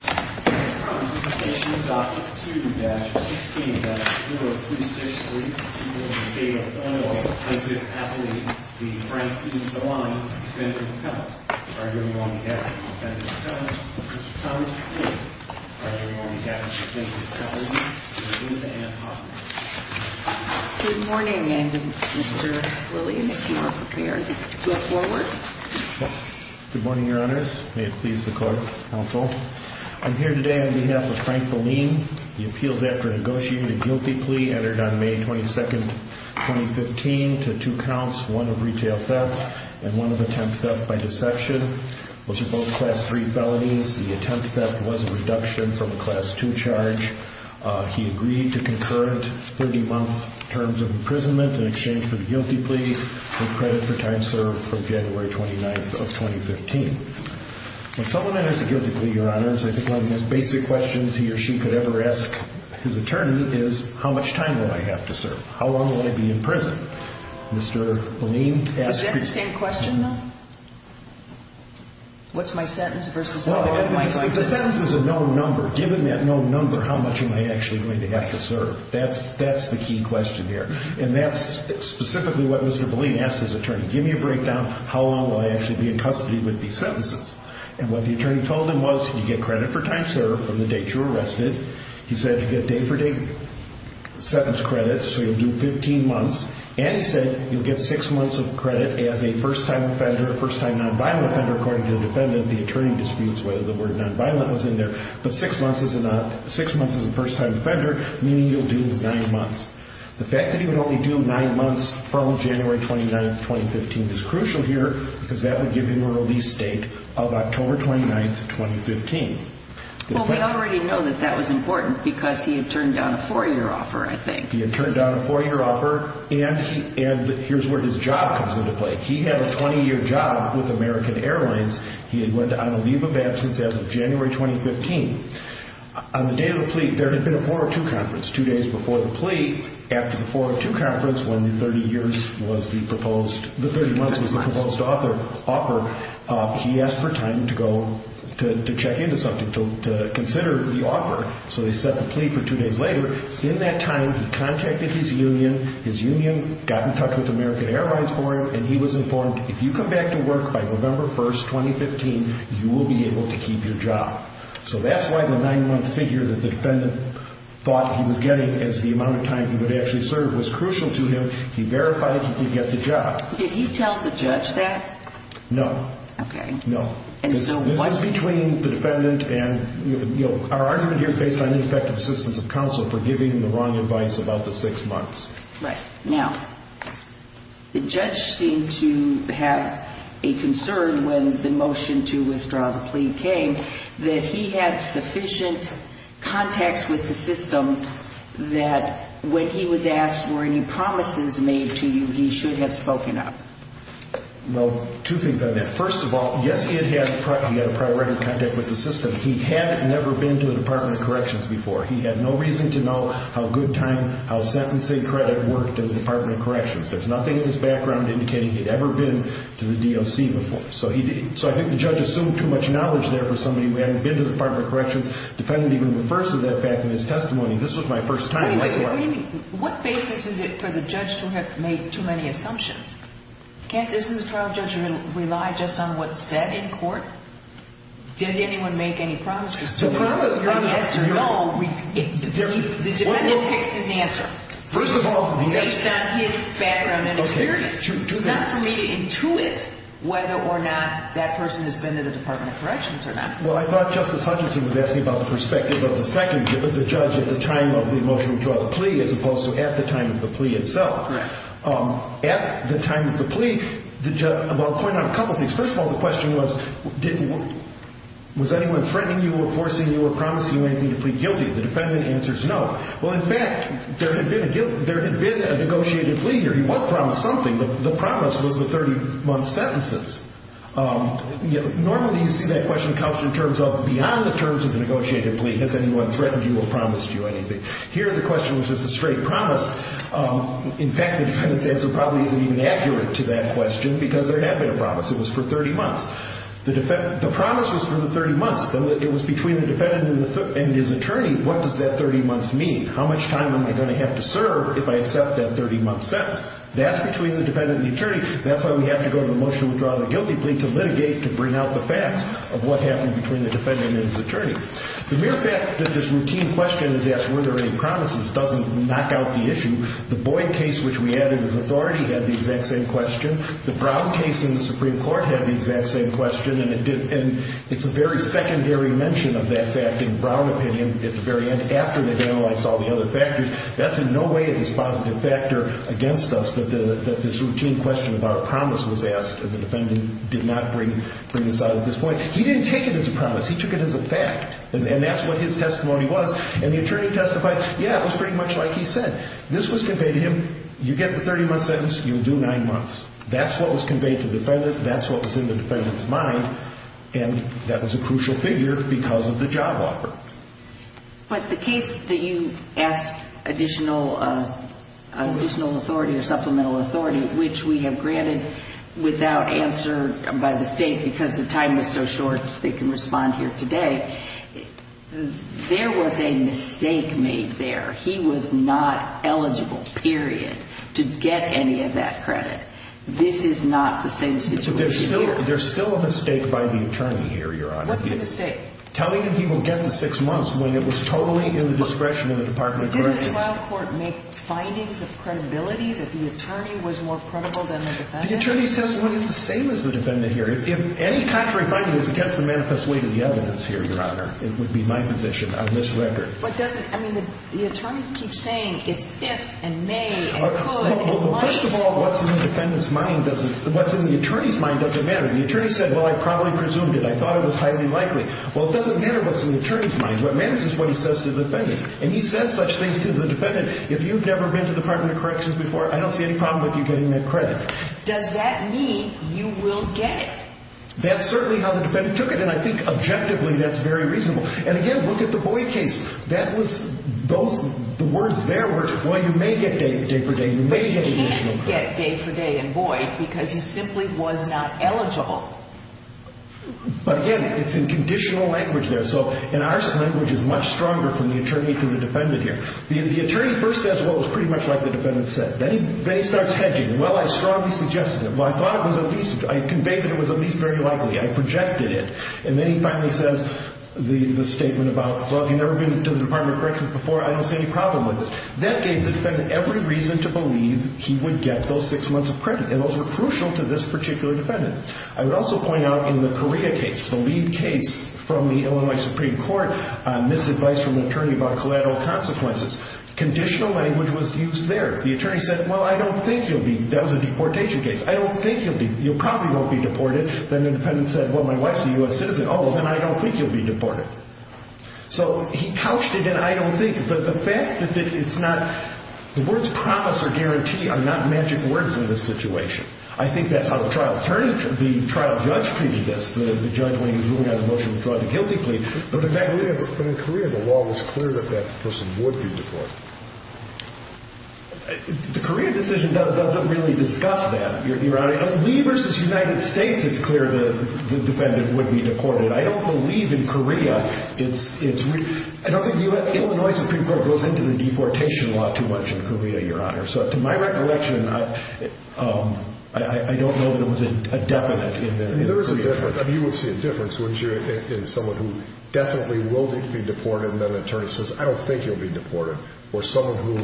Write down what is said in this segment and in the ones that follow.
Good morning, Mr. Williams. If you are prepared to go forward, good morning, Your Honors. May it please the Court, Counsel. I'm here today on behalf of Frank Belline. The appeals after negotiating the guilty plea entered on May 22, 2015 to two counts, one of retail theft and one of attempt theft by deception, which are both Class 3 felonies. The attempt theft was a reduction from a Class 2 charge. He agreed to concurrent 30-month terms of imprisonment in exchange for the guilty plea with credit for time served from January 29 of 2015. When someone has a guilty plea, Your Honors, I think one of the most basic questions he or she could ever ask his attorney is, how much time will I have to serve? How long will I be in prison? Mr. Belline asked... Is that the same question, though? What's my sentence versus... Well, the sentence is a known number. Given that known number, how much am I actually going to have to serve? That's the key question here. And that's specifically what Mr. Belline asked his attorney. Give me a breakdown. How long will I actually be in custody with these sentences? And what the attorney told him was, you get credit for time served from the date you were arrested. He said you get day-for-day sentence credit, so you'll do 15 months. And he said you'll get six months of credit as a first-time offender, first-time nonviolent offender. According to the defendant, the attorney disputes whether the word nonviolent was in there. But six months is a first-time offender, meaning you'll do nine months. The fact that he would only do nine months from January 29, 2015 is crucial here because that would give him a release date of October 29, 2015. Well, we already know that that was important because he had turned down a four-year offer, I think. He had turned down a four-year offer, and here's where his job comes into play. He had a 20-year job with American Airlines. He had went on a leave of absence as of January 2015. On the day of the plea, there had been a 402 conference. Two days before the plea, after the 402 conference, when the 30 months was the proposed offer, he asked for time to go to check into something, to consider the offer. So they set the plea for two days later. In that time, he contacted his union. His union got in touch with American Airlines for him, and he was informed, if you come back to work by November 1, 2015, you will be able to keep your job. So that's why the nine-month figure that the defendant thought he was getting as the amount of time he would actually serve was crucial to him. He verified he could get the job. Did he tell the judge that? No. Okay. No. This is between the defendant and – our argument here is based on ineffective assistance of counsel for giving the wrong advice about the six months. Right. Now, the judge seemed to have a concern when the motion to withdraw the plea came, that he had sufficient contacts with the system that when he was asked, were any promises made to you, he should have spoken up? Well, two things on that. First of all, yes, he had a prior record of contact with the system. But he had never been to the Department of Corrections before. He had no reason to know how good time – how sentencing credit worked in the Department of Corrections. There's nothing in his background indicating he'd ever been to the DOC before. So he – so I think the judge assumed too much knowledge there for somebody who hadn't been to the Department of Corrections. The defendant, even in the first of that fact in his testimony, this was my first time as well. Wait a minute. What basis is it for the judge to have made too many assumptions? Can't this trial judge rely just on what's said in court? Did anyone make any promises to you? The promise – Yes or no. The defendant picks his answer. First of all, yes. Based on his background and experience. Okay. Do that. It's not for me to intuit whether or not that person has been to the Department of Corrections or not. Well, I thought Justice Hutchinson was asking about the perspective of the second – the judge at the time of the motion to withdraw the plea as opposed to at the time of the plea itself. Right. At the time of the plea, the judge – well, I'll point out a couple things. First of all, the question was didn't – was anyone threatening you or forcing you or promising you anything to plead guilty? The defendant answers no. Well, in fact, there had been a – there had been a negotiated plea here. He was promised something. The promise was the 30-month sentences. Normally, you see that question couched in terms of beyond the terms of the negotiated plea. Has anyone threatened you or promised you anything? Here, the question was just a straight promise. In fact, the defendant's answer probably isn't even accurate to that question because there had been a promise. It was for 30 months. The promise was for the 30 months. It was between the defendant and his attorney. What does that 30 months mean? How much time am I going to have to serve if I accept that 30-month sentence? That's between the defendant and the attorney. That's why we have to go to the motion to withdraw the guilty plea to litigate, to bring out the facts of what happened between the defendant and his attorney. The mere fact that this routine question is asked, were there any promises, doesn't knock out the issue. The Boyd case, which we added as authority, had the exact same question. The Brown case in the Supreme Court had the exact same question. And it's a very secondary mention of that fact in Brown opinion at the very end after they've analyzed all the other factors. That's in no way a dispositive factor against us that this routine question about a promise was asked. The defendant did not bring this out at this point. He didn't take it as a promise. He took it as a fact. And that's what his testimony was. And the attorney testified, yeah, it was pretty much like he said. This was conveyed to him. You get the 30-month sentence, you'll do nine months. That's what was conveyed to the defendant. That's what was in the defendant's mind. And that was a crucial figure because of the job offer. But the case that you asked additional authority or supplemental authority, which we have granted without answer by the state, because the time is so short they can respond here today, there was a mistake made there. He was not eligible, period, to get any of that credit. This is not the same situation here. There's still a mistake by the attorney here, Your Honor. What's the mistake? Telling him he will get the six months when it was totally in the discretion of the Department of Corrections. Didn't the trial court make findings of credibility that the attorney was more credible than the defendant? The attorney's testimony is the same as the defendant here. If any contrary finding is against the manifest way to the evidence here, Your Honor, it would be my position on this record. But doesn't, I mean, the attorney keeps saying it's if and may and could and might. Well, first of all, what's in the defendant's mind doesn't, what's in the attorney's mind doesn't matter. The attorney said, well, I probably presumed it. I thought it was highly likely. Well, it doesn't matter what's in the attorney's mind. What matters is what he says to the defendant, and he says such things to the defendant. If you've never been to the Department of Corrections before, I don't see any problem with you getting that credit. Does that mean you will get it? That's certainly how the defendant took it, and I think objectively that's very reasonable. And, again, look at the Boyd case. That was those, the words there were, well, you may get day for day, you may get additional credit. You did get day for day in Boyd because you simply was not eligible. But, again, it's in conditional language there. So in our language, it's much stronger from the attorney to the defendant here. The attorney first says, well, it was pretty much like the defendant said. Then he starts hedging. Well, I strongly suggested it. Well, I thought it was at least, I conveyed that it was at least very likely. I projected it. And then he finally says the statement about, well, if you've never been to the Department of Corrections before, I don't see any problem with this. That gave the defendant every reason to believe he would get those six months of credit. And those were crucial to this particular defendant. I would also point out in the Correa case, the lead case from the Illinois Supreme Court, misadvice from the attorney about collateral consequences. Conditional language was used there. The attorney said, well, I don't think you'll be, that was a deportation case. I don't think you'll be, you probably won't be deported. Then the defendant said, well, my wife's a U.S. citizen. Oh, well, then I don't think you'll be deported. So he couched it in I don't think. The fact that it's not, the words promise or guarantee are not magic words in this situation. I think that's how the trial attorney, the trial judge treated this. The judge, when he was moving out of the motion, was drawn to guilty plea. But in fact, in Correa, the law was clear that that person would be deported. The Correa decision doesn't really discuss that, Your Honor. In Lee versus United States, it's clear the defendant would be deported. I don't believe in Correa. I don't think the Illinois Supreme Court goes into the deportation law too much in Correa, Your Honor. So to my recollection, I don't know if there was a definite in Correa. There is a difference. I mean, you would see a difference, wouldn't you, in someone who definitely will need to be deported and then the attorney says, I don't think you'll be deported, or someone who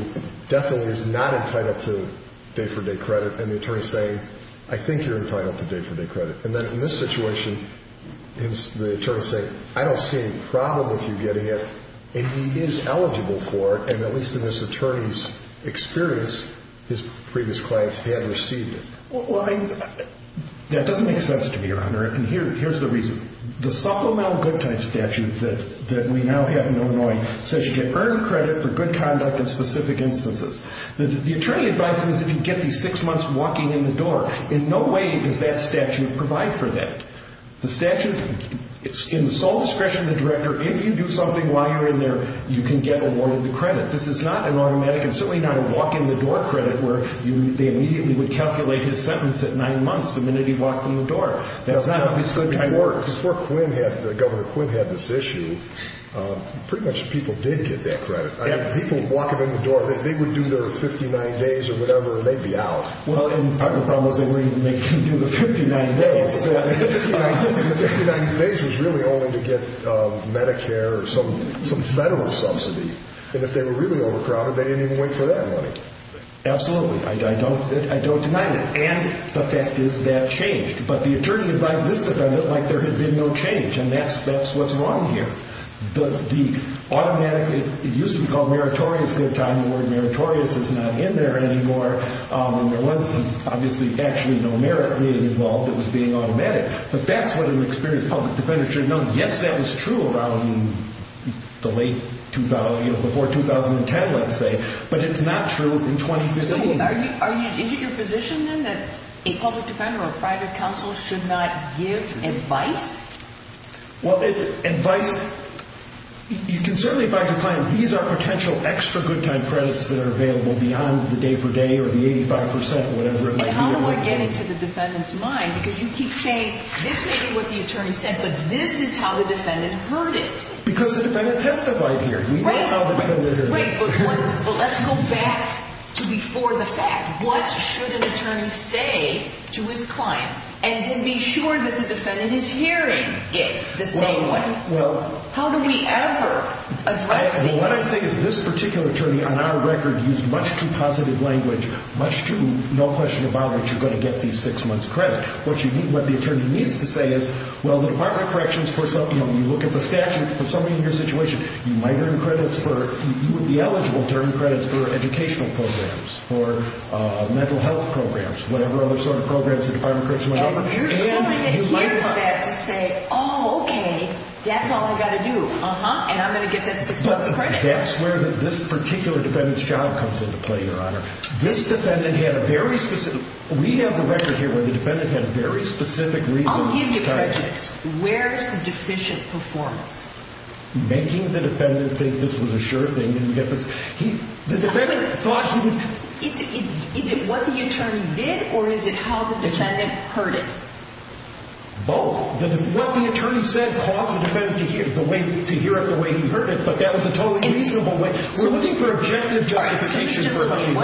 definitely is not entitled to day-for-day credit and the attorney saying, I think you're entitled to day-for-day credit. And then in this situation, the attorney is saying, I don't see any problem with you getting it, and he is eligible for it, and at least in this attorney's experience, his previous clients have received it. Well, that doesn't make sense to me, Your Honor, and here's the reason. The supplemental good time statute that we now have in Illinois says you get earned credit for good conduct in specific instances. The attorney advised me that if you get these six months walking in the door, in no way does that statute provide for that. The statute is in the sole discretion of the director. If you do something while you're in there, you can get awarded the credit. This is not an automatic and certainly not a walk-in-the-door credit where they immediately would calculate his sentence at nine months the minute he walked in the door. That's not understood before. Before Governor Quinn had this issue, pretty much people did get that credit. I mean, people walking in the door, they would do their 59 days or whatever and they'd be out. Well, and part of the problem is they wouldn't even make you do the 59 days. The 59 days was really only to get Medicare or some federal subsidy, and if they were really overcrowded, they didn't even wait for that money. Absolutely. I don't deny that, and the fact is that changed. But the attorney advised this defendant like there had been no change, and that's what's wrong here. The automatic, it used to be called meritorious good time. The word meritorious is not in there anymore, and there was obviously actually no merit involved. It was being automatic. But that's what an experienced public defender should know. Yes, that was true around the late 2000, before 2010, let's say, but it's not true in 2015. So is it your position then that a public defender or a private counsel should not give advice? Well, advice, you can certainly advise your client these are potential extra good time credits that are available beyond the day for day or the 85 percent or whatever it might be. And how do I get it to the defendant's mind? Because you keep saying this may be what the attorney said, but this is how the defendant heard it. Because the defendant testified here. Right. We know how the defendant heard it. Right, but let's go back to before the fact. What should an attorney say to his client? And then be sure that the defendant is hearing it, the same one. How do we ever address these? What I say is this particular attorney on our record used much too positive language, much too no question about what you're going to get these six months credit. What the attorney needs to say is, well, the Department of Corrections, you look at the statute for somebody in your situation, you might earn credits for, you would be eligible to earn credits for educational programs, for mental health programs, whatever other sort of programs the Department of Corrections went over. And you might want to hear that to say, oh, okay, that's all I've got to do, uh-huh, and I'm going to get that six months credit. That's where this particular defendant's job comes into play, Your Honor. This defendant had a very specific, we have the record here where the defendant had a very specific reason. I'll give you prejudice. Where's the deficient performance? Making the defendant think this was a sure thing. The defendant thought he did. Is it what the attorney did or is it how the defendant heard it? Both. What the attorney said caused the defendant to hear it the way he heard it, but that was a totally reasonable way. We're looking for objective justification for what he did.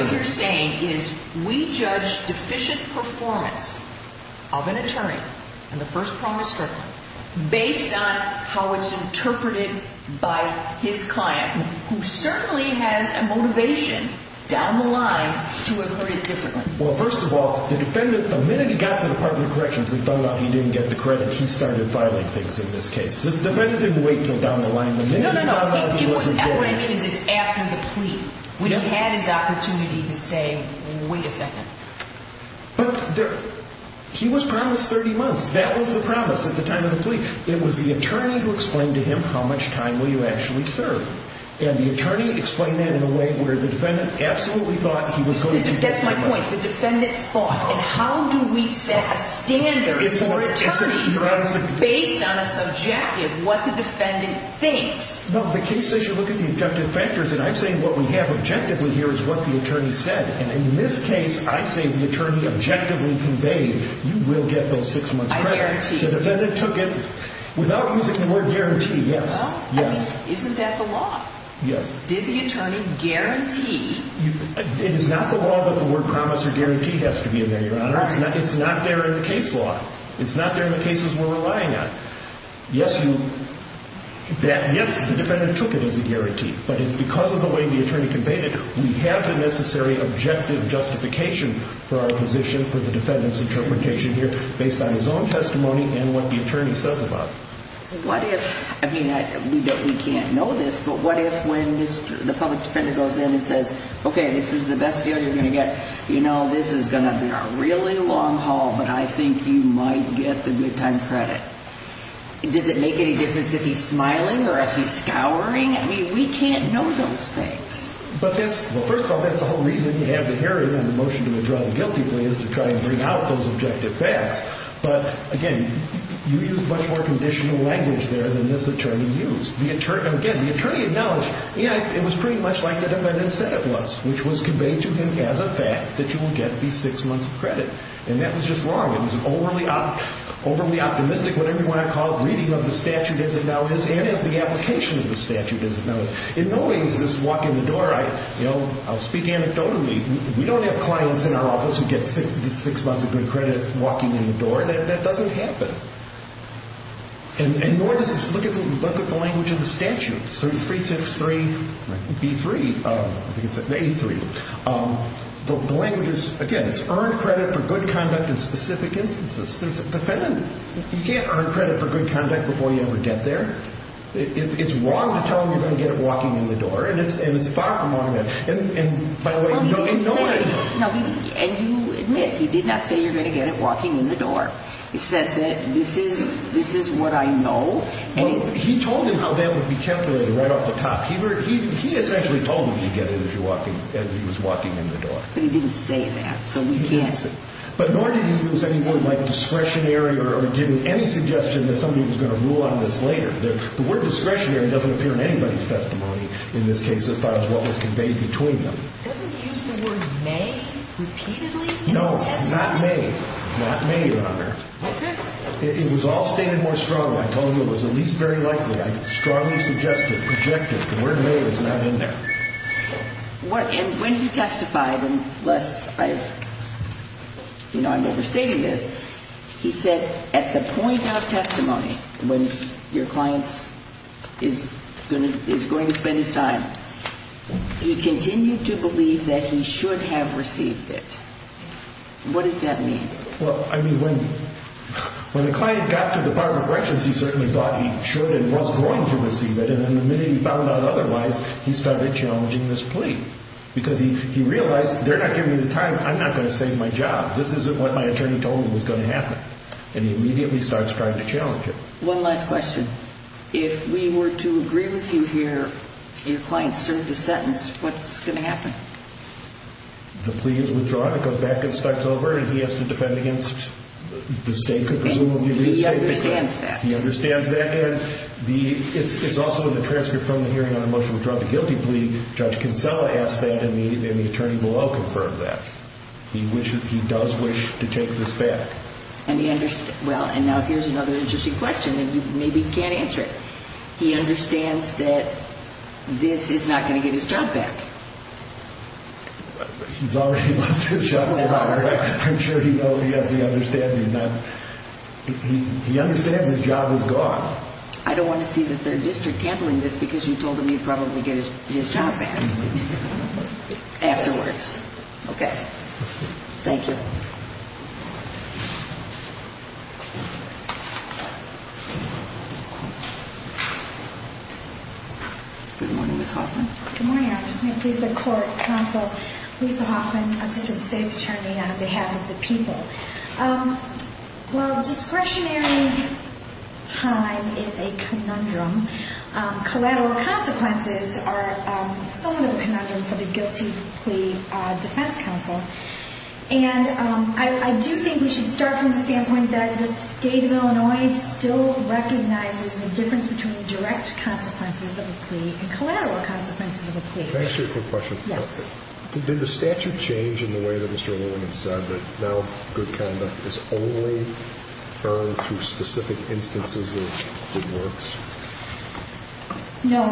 Based on how it's interpreted by his client, who certainly has a motivation down the line to have heard it differently. Well, first of all, the defendant, the minute he got to the Department of Corrections and found out he didn't get the credit, he started filing things in this case. This defendant didn't wait until down the line. No, no, no. What I mean is it's after the plea. When he had his opportunity to say, wait a second. But he was promised 30 months. That was the promise at the time of the plea. It was the attorney who explained to him, how much time will you actually serve? And the attorney explained that in a way where the defendant absolutely thought he was going to. That's my point. The defendant thought. And how do we set a standard for attorneys based on a subjective what the defendant thinks? No, the case says you look at the objective factors. And I'm saying what we have objectively here is what the attorney said. And in this case, I say the attorney objectively conveyed you will get those six months credit. I guarantee. The defendant took it without using the word guarantee. Yes. Well, I mean, isn't that the law? Yes. Did the attorney guarantee? It is not the law that the word promise or guarantee has to be in there, Your Honor. All right. It's not there in the case law. It's not there in the cases we're relying on. Yes, you. Yes, the defendant took it as a guarantee. But it's because of the way the attorney conveyed it, we have the necessary objective justification for our position for the defendant's interpretation here based on his own testimony and what the attorney says about it. What if, I mean, we can't know this, but what if when the public defender goes in and says, okay, this is the best deal you're going to get, you know, this is going to be a really long haul, but I think you might get the good time credit. Does it make any difference if he's smiling or if he's scouring? I mean, we can't know those things. But that's, well, first of all, that's the whole reason you have the hearing on the motion to withdraw the guilty plea is to try and bring out those objective facts. But, again, you use much more conditional language there than this attorney used. Again, the attorney acknowledged, yeah, it was pretty much like the defendant said it was, which was conveyed to him as a fact that you will get the six months of credit. And that was just wrong. It was overly optimistic, whatever you want to call it, reading of the statute as it now is and of the application of the statute as it now is. In no way is this walking the door, you know, I'll speak anecdotally, we don't have clients in our office who get six months of good credit walking in the door. That doesn't happen. And nor does this look at the language of the statute. Three, three, three, three, three, three, three. The language is, again, it's earned credit for good conduct in specific instances. There's a defendant. You can't earn credit for good conduct before you ever get there. It's wrong to tell him you're going to get it walking in the door. And it's and it's far from automatic. And by the way, you don't know it. And you admit he did not say you're going to get it walking in the door. He said that this is this is what I know. He told him how that would be calculated right off the top. He essentially told him you get it if you're walking as he was walking in the door. But he didn't say that. So we can't say. But nor did he use any word like discretionary or any suggestion that somebody was going to rule on this later. The word discretionary doesn't appear in anybody's testimony. In this case, this part is what was conveyed between them. Doesn't he use the word may repeatedly in his testimony? No, not may. Not may, Your Honor. It was all stated more strongly. I told you it was at least very likely. I strongly suggested, rejected. The word may is not in there. And when he testified, unless I, you know, I'm overstating this, he said at the point of testimony, when your client is going to spend his time, he continued to believe that he should have received it. What does that mean? Well, I mean, when the client got to the Department of Corrections, he certainly thought he should and was going to receive it, and then the minute he found out otherwise, he started challenging this plea because he realized they're not giving me the time. I'm not going to save my job. This isn't what my attorney told me was going to happen, and he immediately starts trying to challenge it. One last question. If we were to agree with you here, your client served a sentence, what's going to happen? The plea is withdrawn. It goes back and starts over, and he has to defend against the state. He understands that. He understands that, and it's also in the transcript from the hearing on the motion to withdraw the guilty plea. Judge Kinsella asked that, and the attorney below confirmed that. He does wish to take this back. Well, and now here's another interesting question, and maybe he can't answer it. He understands that this is not going to get his job back. He's already lost his job. I'm sure he knows. Yes, he understands. He understands his job is gone. I don't want to see the 3rd District handling this because you told him he'd probably get his job back afterwards. Okay. Thank you. Good morning, Ms. Hoffman. Good morning, Your Honor. Just going to please the Court, Counsel Lisa Hoffman, Assistant State's Attorney, on behalf of the people. Well, discretionary time is a conundrum. Collateral consequences are somewhat of a conundrum for the guilty plea defense counsel. And I do think we should start from the standpoint that the State of Illinois still recognizes the difference between direct consequences of a plea and collateral consequences of a plea. Can I ask you a quick question? Yes. Did the statute change in the way that Mr. Lilliman said that now good conduct is only earned through specific instances of good works? No.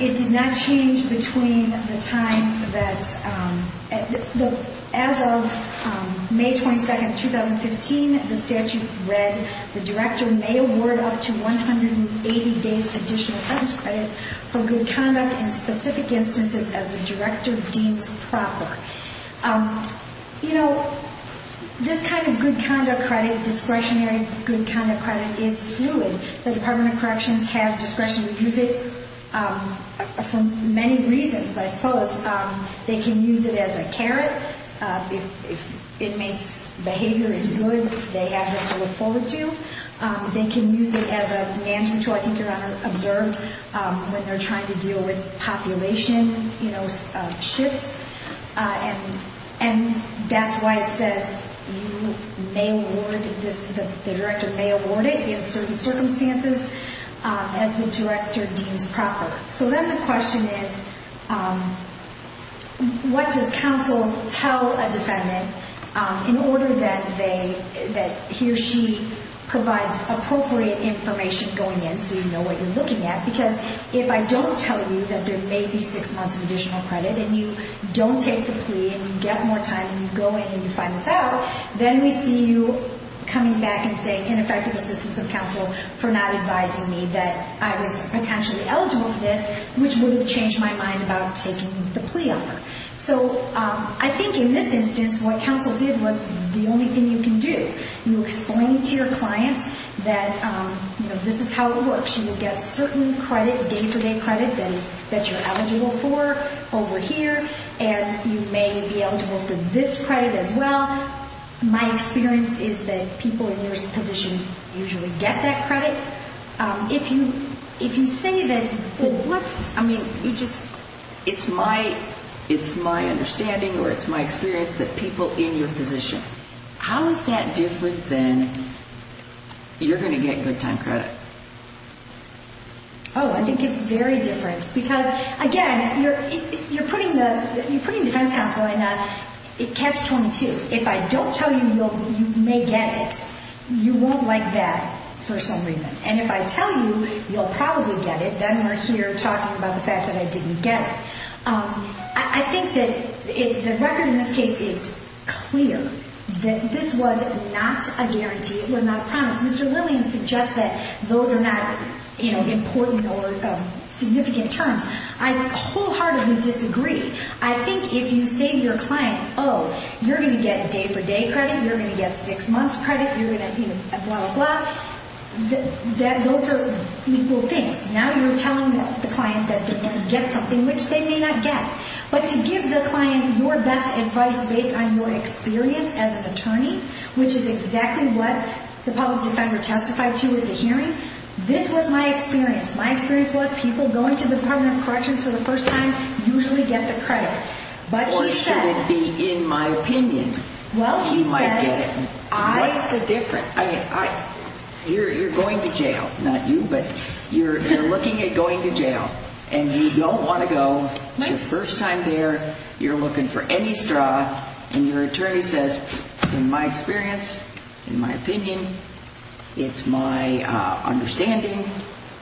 It did not change between the time that, as of May 22, 2015, the statute read, the director may award up to 180 days additional sentence credit for good conduct in specific instances as the director deems proper. You know, this kind of good conduct credit, discretionary good conduct credit, is fluid. The Department of Corrections has discretion to use it for many reasons, I suppose. They can use it as a carrot. If inmates' behavior is good, they have this to look forward to. They can use it as a management tool, I think Your Honor observed, when they're trying to deal with population shifts. And that's why it says the director may award it in certain circumstances as the director deems proper. So then the question is, what does counsel tell a defendant in order that he or she provides appropriate information going in so you know what you're looking at? Because if I don't tell you that there may be six months of additional credit and you don't take the plea and you get more time and you go in and you find this out, then we see you coming back and saying ineffective assistance of counsel for not advising me that I was potentially eligible for this, which would have changed my mind about taking the plea offer. So I think in this instance, what counsel did was the only thing you can do. You explain to your client that this is how it works. You get certain day-to-day credit that you're eligible for over here, and you may be eligible for this credit as well. My experience is that people in your position usually get that credit. If you say that it's my understanding or it's my experience that people in your position, how is that different than you're going to get good time credit? Oh, I think it's very different because, again, you're putting defense counsel in catch-22. If I don't tell you you may get it, you won't like that for some reason. And if I tell you you'll probably get it, then we're here talking about the fact that I didn't get it. I think that the record in this case is clear that this was not a guarantee. It was not a promise. Mr. Lillian suggests that those are not important or significant terms. I wholeheartedly disagree. I think if you say to your client, oh, you're going to get day-for-day credit, you're going to get six months credit, you're going to get blah, blah, blah, that those are equal things. Now you're telling the client that they're going to get something which they may not get. But to give the client your best advice based on your experience as an attorney, which is exactly what the public defender testified to at the hearing, this was my experience. My experience was people going to the Department of Corrections for the first time usually get the credit. Or should it be, in my opinion, you might get it. What's the difference? You're going to jail, not you, but you're looking at going to jail, and you don't want to go. It's your first time there. You're looking for any straw, and your attorney says, in my experience, in my opinion, it's my understanding.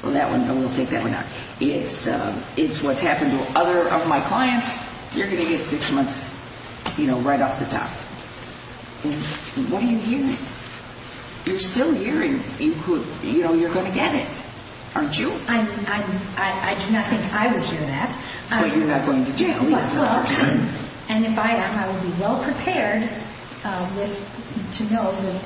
Well, that one, no, we'll take that one out. It's what's happened to other of my clients. You're going to get six months, you know, right off the top. What do you hear? You're still hearing, you know, you're going to get it, aren't you? I do not think I would hear that. But you're not going to jail. And if I am, I would be well-prepared to know.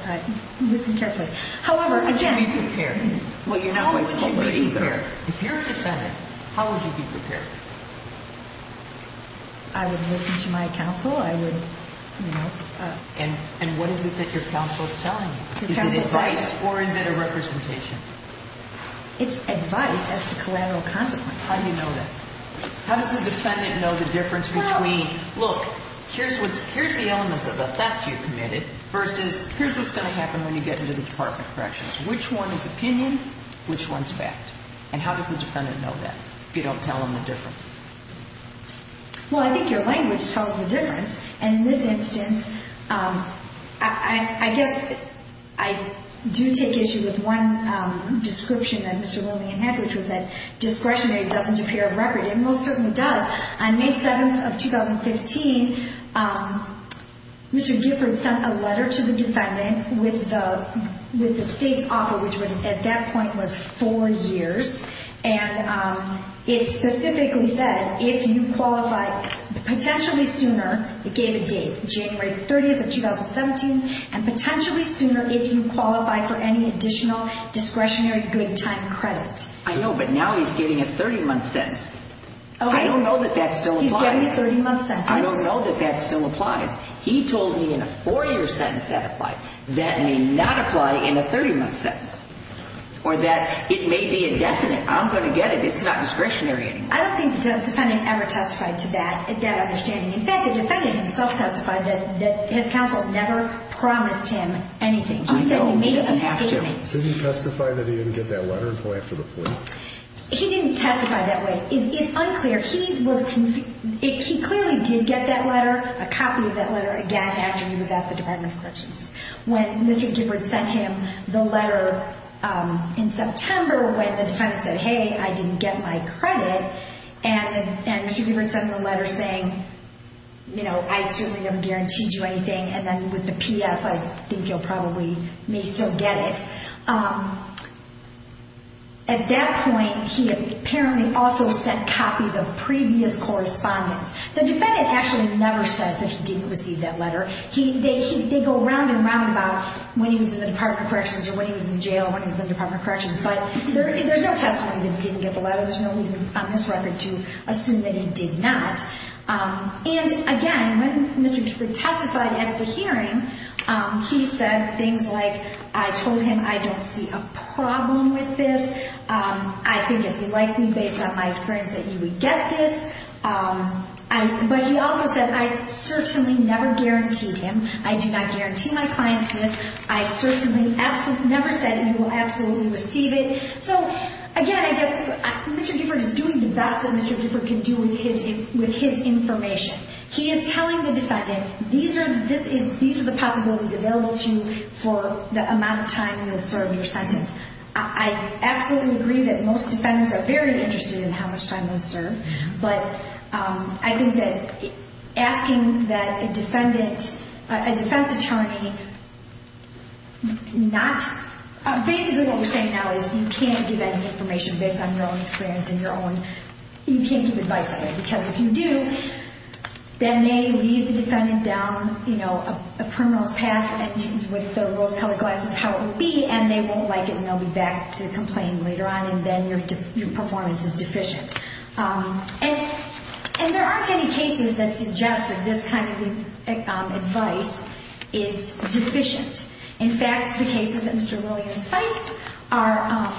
Listen carefully. How would you be prepared? Well, you're not going to jail either. If you're a defendant, how would you be prepared? I would listen to my counsel. I would, you know. And what is it that your counsel is telling you? Is it advice, or is it a representation? It's advice as to collateral consequences. How do you know that? How does the defendant know the difference between, look, here's the elements of the theft you committed versus here's what's going to happen when you get into the Department of Corrections. Which one is opinion? Which one is fact? And how does the defendant know that if you don't tell them the difference? Well, I think your language tells the difference. And in this instance, I guess I do take issue with one description that Mr. Lillian had, which was that discretionary doesn't appear a record. It most certainly does. On May 7th of 2015, Mr. Gifford sent a letter to the defendant with the state's offer, which at that point was four years. And it specifically said if you qualify potentially sooner, it gave a date, January 30th of 2017, and potentially sooner if you qualify for any additional discretionary good time credit. I know, but now he's getting a 30-month sentence. I don't know that that still applies. He's getting a 30-month sentence. I don't know that that still applies. He told me in a four-year sentence that applied. That may not apply in a 30-month sentence. Or that it may be indefinite. I'm going to get it. It's not discretionary anymore. I don't think the defendant ever testified to that understanding. In fact, the defendant himself testified that his counsel never promised him anything. He said he made a statement. I know, he doesn't have to. Didn't he testify that he didn't get that letter and apply it for the plea? He didn't testify that way. It's unclear. He clearly did get that letter, a copy of that letter, again, after he was at the Department of Corrections. When Mr. Gibbard sent him the letter in September when the defendant said, hey, I didn't get my credit, and Mr. Gibbard sent him the letter saying, you know, I certainly never guaranteed you anything, and then with the P.S. I think you'll probably may still get it. At that point, he apparently also sent copies of previous correspondence. The defendant actually never says that he didn't receive that letter. They go round and round about when he was in the Department of Corrections or when he was in jail when he was in the Department of Corrections. But there's no testimony that he didn't get the letter. There's no reason on this record to assume that he did not. And, again, when Mr. Gibbard testified at the hearing, he said things like, I told him I don't see a problem with this. I think it's likely, based on my experience, that you would get this. But he also said, I certainly never guaranteed him. I do not guarantee my clients this. I certainly never said you will absolutely receive it. So, again, I guess Mr. Gibbard is doing the best that Mr. Gibbard can do with his information. He is telling the defendant, these are the possibilities available to you for the amount of time you'll serve your sentence. I absolutely agree that most defendants are very interested in how much time they'll serve. But I think that asking that a defendant, a defense attorney, not, basically what we're saying now is you can't give any information based on your own experience and your own, you can't give advice like that. Because if you do, then they leave the defendant down a criminal's path and he's with the rose-colored glasses how it would be, and they won't like it and they'll be back to complain later on, and then your performance is deficient. And there aren't any cases that suggest that this kind of advice is deficient. In fact, the cases that Mr. Lillian cites are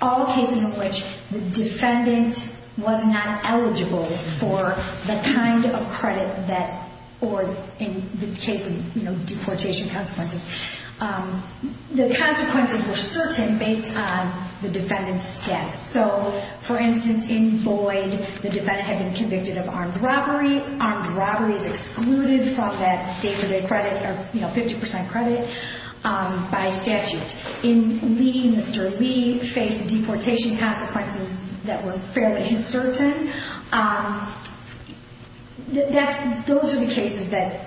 all cases in which the defendant was not eligible for the kind of credit that, or in the case of deportation consequences, the consequences were certain based on the defendant's steps. So, for instance, in Boyd, the defendant had been convicted of armed robbery. Armed robbery is excluded from that day-to-day credit or 50% credit by statute. In Lee, Mr. Lee faced deportation consequences that were fairly certain. Those are the cases that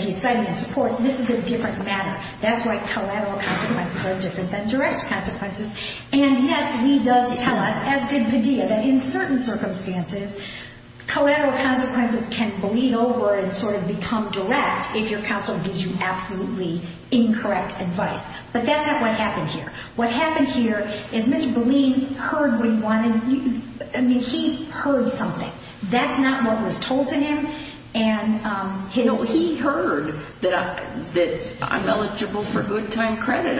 he's citing in support. This is a different matter. That's why collateral consequences are different than direct consequences. And, yes, Lee does tell us, as did Padilla, that in certain circumstances, collateral consequences can bleed over and sort of become direct if your counsel gives you absolutely incorrect advice. But that's not what happened here. What happened here is Mr. Boleen heard what he wanted. I mean, he heard something. That's not what was told to him. No, he heard that I'm eligible for good time credit.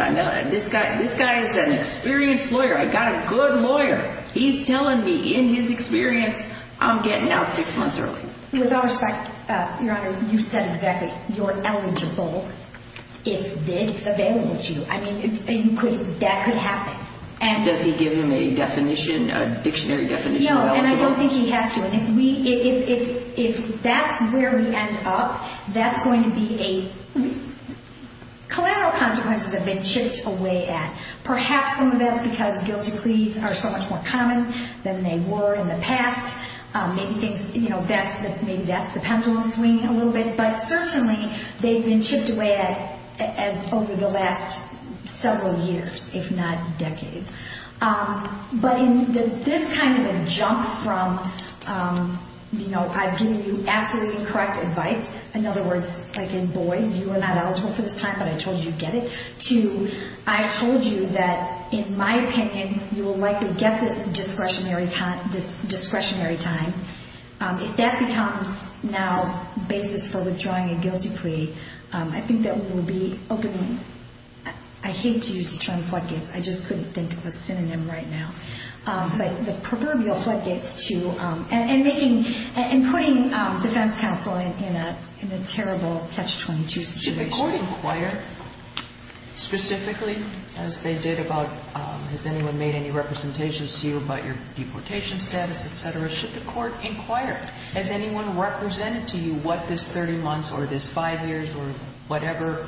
This guy is an experienced lawyer. I got a good lawyer. He's telling me in his experience I'm getting out six months early. With all respect, Your Honor, you said exactly. You're eligible if it's available to you. I mean, that could happen. Does he give him a dictionary definition of eligible? No, and I don't think he has to. And if that's where we end up, that's going to be a – collateral consequences have been chipped away at. Perhaps some of that is because guilty pleas are so much more common than they were in the past. Maybe that's the pendulum swinging a little bit. But certainly they've been chipped away at over the last several years, if not decades. But in this kind of a jump from, you know, I've given you absolutely incorrect advice. In other words, like in, boy, you are not eligible for this time, but I told you to get it, to I told you that, in my opinion, you will likely get this discretionary time. If that becomes now the basis for withdrawing a guilty plea, I think that we will be opening – I hate to use the term floodgates. I just couldn't think of a synonym right now. But the proverbial floodgates to – and making – and putting defense counsel in a terrible Catch-22 situation. Should the court inquire specifically, as they did about – has anyone made any representations to you about your deportation status, etc.? Should the court inquire? Has anyone represented to you what this 30 months or this five years or whatever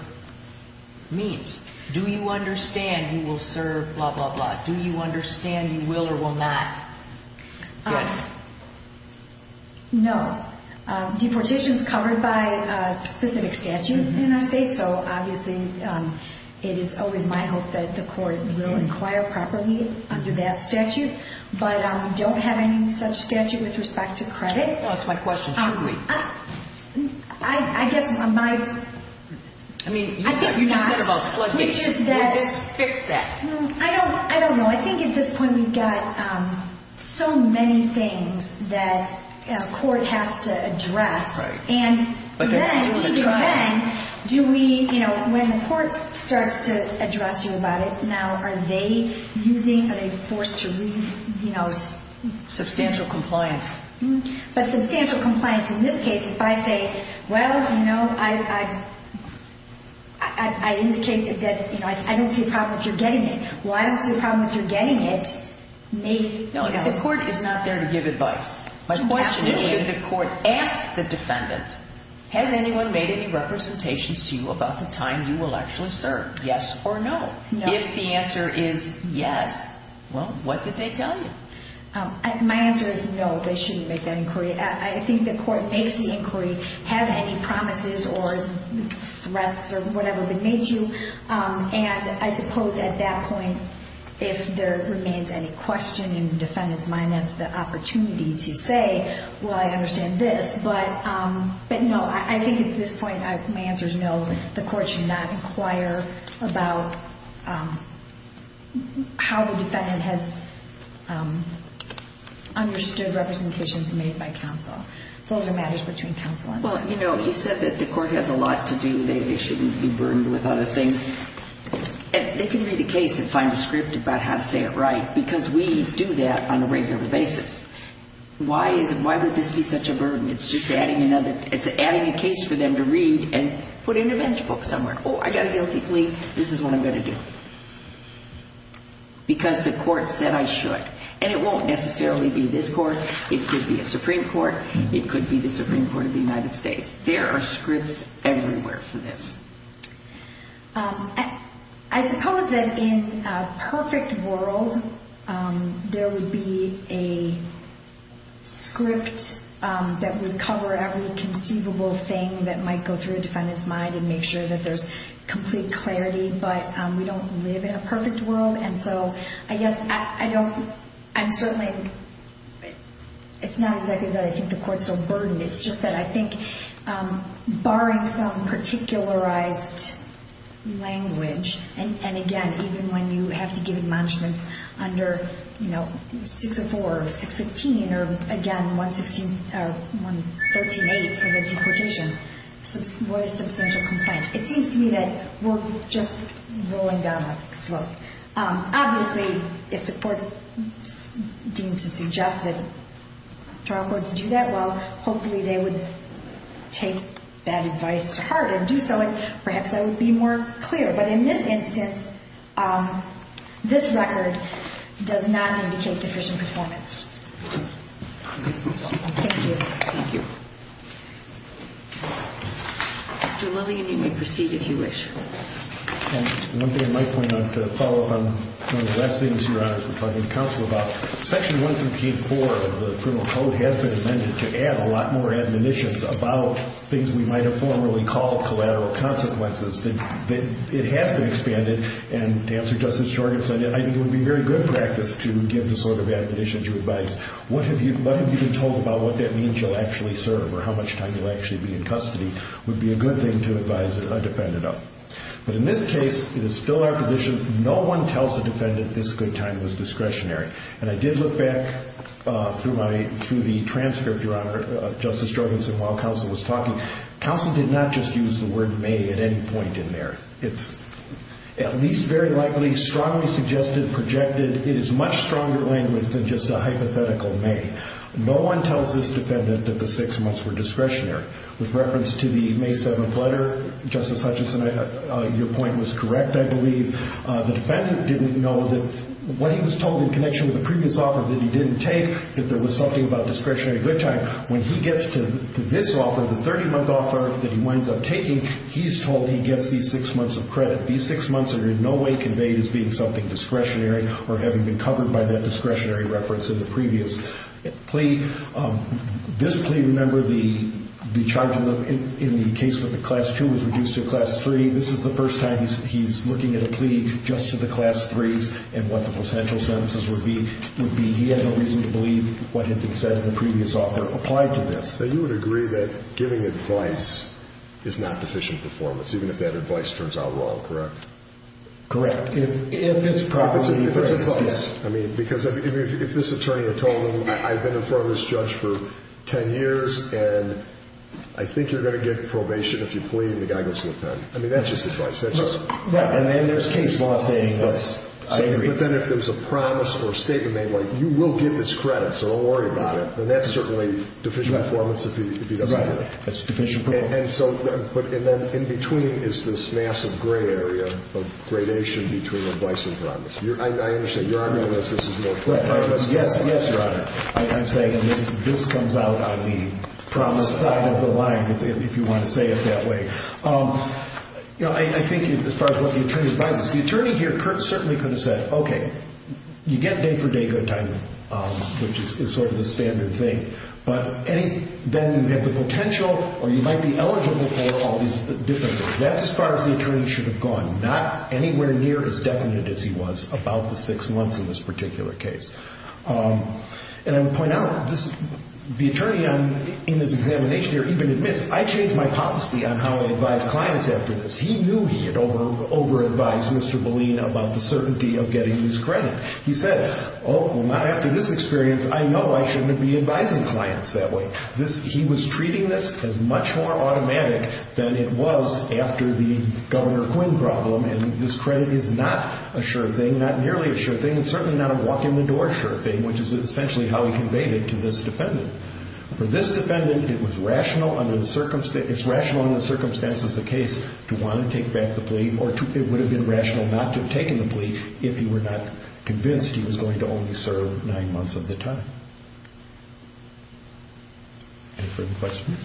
means? Do you understand you will serve blah, blah, blah? Do you understand you will or will not? Good. No. Deportation is covered by a specific statute in our state, so obviously it is always my hope that the court will inquire properly under that statute. But I don't have any such statute with respect to credit. That's my question. Should we? I guess my – I mean, you just said about floodgates. Would this fix that? I don't know. I think at this point we've got so many things that a court has to address. Right. And then, even then, do we – when the court starts to address you about it, now are they using – are they forced to read – Substantial compliance. But substantial compliance. In this case, if I say, well, you know, I indicate that I don't see a problem with your getting it. Well, I don't see a problem with your getting it. Maybe. No, the court is not there to give advice. My question is, should the court ask the defendant, has anyone made any representations to you about the time you will actually serve? Yes or no? No. If the answer is yes, well, what did they tell you? My answer is no, they shouldn't make that inquiry. I think the court makes the inquiry, have any promises or threats or whatever been made to you. And I suppose at that point, if there remains any question in the defendant's mind, that's the opportunity to say, well, I understand this. But no, I think at this point, my answer is no. The court should not inquire about how the defendant has understood representations made by counsel. Those are matters between counsel and the defendant. Well, you know, you said that the court has a lot to do. They shouldn't be burdened with other things. They can read a case and find a script about how to say it right because we do that on a regular basis. Why would this be such a burden? It's just adding a case for them to read and put it in a bench book somewhere. Oh, I got a guilty plea. This is what I'm going to do because the court said I should. And it won't necessarily be this court. It could be a Supreme Court. It could be the Supreme Court of the United States. There are scripts everywhere for this. I suppose that in a perfect world, there would be a script that would cover every conceivable thing that might go through a defendant's mind and make sure that there's complete clarity, but we don't live in a perfect world. And so I guess I don't – I'm certainly – it's not exactly that I think the barring some particularized language and, again, even when you have to give admonishments under 604 or 615 or, again, 113.8 for the deportation was substantial complaint. It seems to me that we're just rolling down the slope. Obviously, if the court deemed to suggest that trial courts do that, well, hopefully they would take that advice to heart and do so, and perhaps that would be more clear. But in this instance, this record does not indicate deficient performance. Thank you. Thank you. Mr. Lillian, you may proceed if you wish. One thing I might point out to follow up on one of the last things, Your Honors, we're talking to counsel about, Section 138.4 of the Criminal Code has been amended to add a lot more admonitions about things we might have formerly called collateral consequences. It has been expanded, and to answer Justice Jorgensen, I think it would be very good practice to give the sort of admonitions or advice. What have you been told about what that means you'll actually serve or how much time you'll actually be in custody would be a good thing to advise a defendant of. But in this case, it is still our position, no one tells a defendant this good time was discretionary. And I did look back through the transcript, Your Honor, Justice Jorgensen, while counsel was talking. Counsel did not just use the word may at any point in there. It's at least very likely, strongly suggested, projected, it is much stronger language than just a hypothetical may. No one tells this defendant that the six months were discretionary. With reference to the May 7th letter, Justice Hutchinson, your point was correct, I believe. The defendant didn't know that what he was told in connection with the previous offer that he didn't take, that there was something about discretionary good time. When he gets to this offer, the 30-month offer that he winds up taking, he's told he gets these six months of credit. These six months are in no way conveyed as being something discretionary or having been covered by that discretionary reference in the previous plea. This plea, remember, the charge in the case with the class 2 was reduced to a class 3. This is the first time he's looking at a plea just to the class 3s and what the potential sentences would be. He had no reason to believe what had been said in the previous offer applied to this. So you would agree that giving advice is not deficient performance, even if that advice turns out wrong, correct? Correct. If it's properly referenced, yes. I mean, because if this attorney had told him, I've been in front of this judge for 10 years and I think you're going to get the same advice every time. I mean, that's just advice. That's just. Right. And then there's case law saying that's, I agree. But then if there's a promise or a statement made like, you will get this credit so don't worry about it, then that's certainly deficient performance if he doesn't get it. Right. That's deficient performance. And so, but in between is this massive gray area of gradation between advice and promise. I understand. Your Honor, unless this is more clear. Yes, yes, Your Honor. I'm saying this comes out on the promise side of the line, if you want to say it that way. You know, I think as far as what the attorney advises, the attorney here certainly could have said, okay, you get day for day good timing, which is sort of the standard thing. But then you have the potential or you might be eligible for all these different things. That's as far as the attorney should have gone. Not anywhere near as definite as he was about the six months in this particular case. And I would point out, the attorney in this examination here even admits, I changed my policy on how I advise clients after this. He knew he had over-advised Mr. Boleen about the certainty of getting this credit. He said, oh, well, not after this experience. I know I shouldn't be advising clients that way. He was treating this as much more automatic than it was after the Governor Quinn problem. And this credit is not a sure thing, not nearly a sure thing, and certainly not a walk-in-the-door sure thing, which is essentially how he conveyed it to this defendant. For this defendant, it was rational under the circumstance, it's rational under the circumstances of the case to want to take back the plea or it would have been rational not to have taken the plea if he were not convinced he was going to only serve nine months of the time. Any further questions?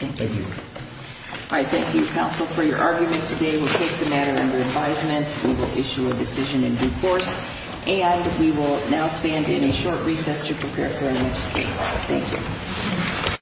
Thank you. All right. Thank you, counsel, for your argument today. We'll take the matter under advisement. We will issue a decision in due course. And we will now stand in a short recess to prepare for our next case. Thank you.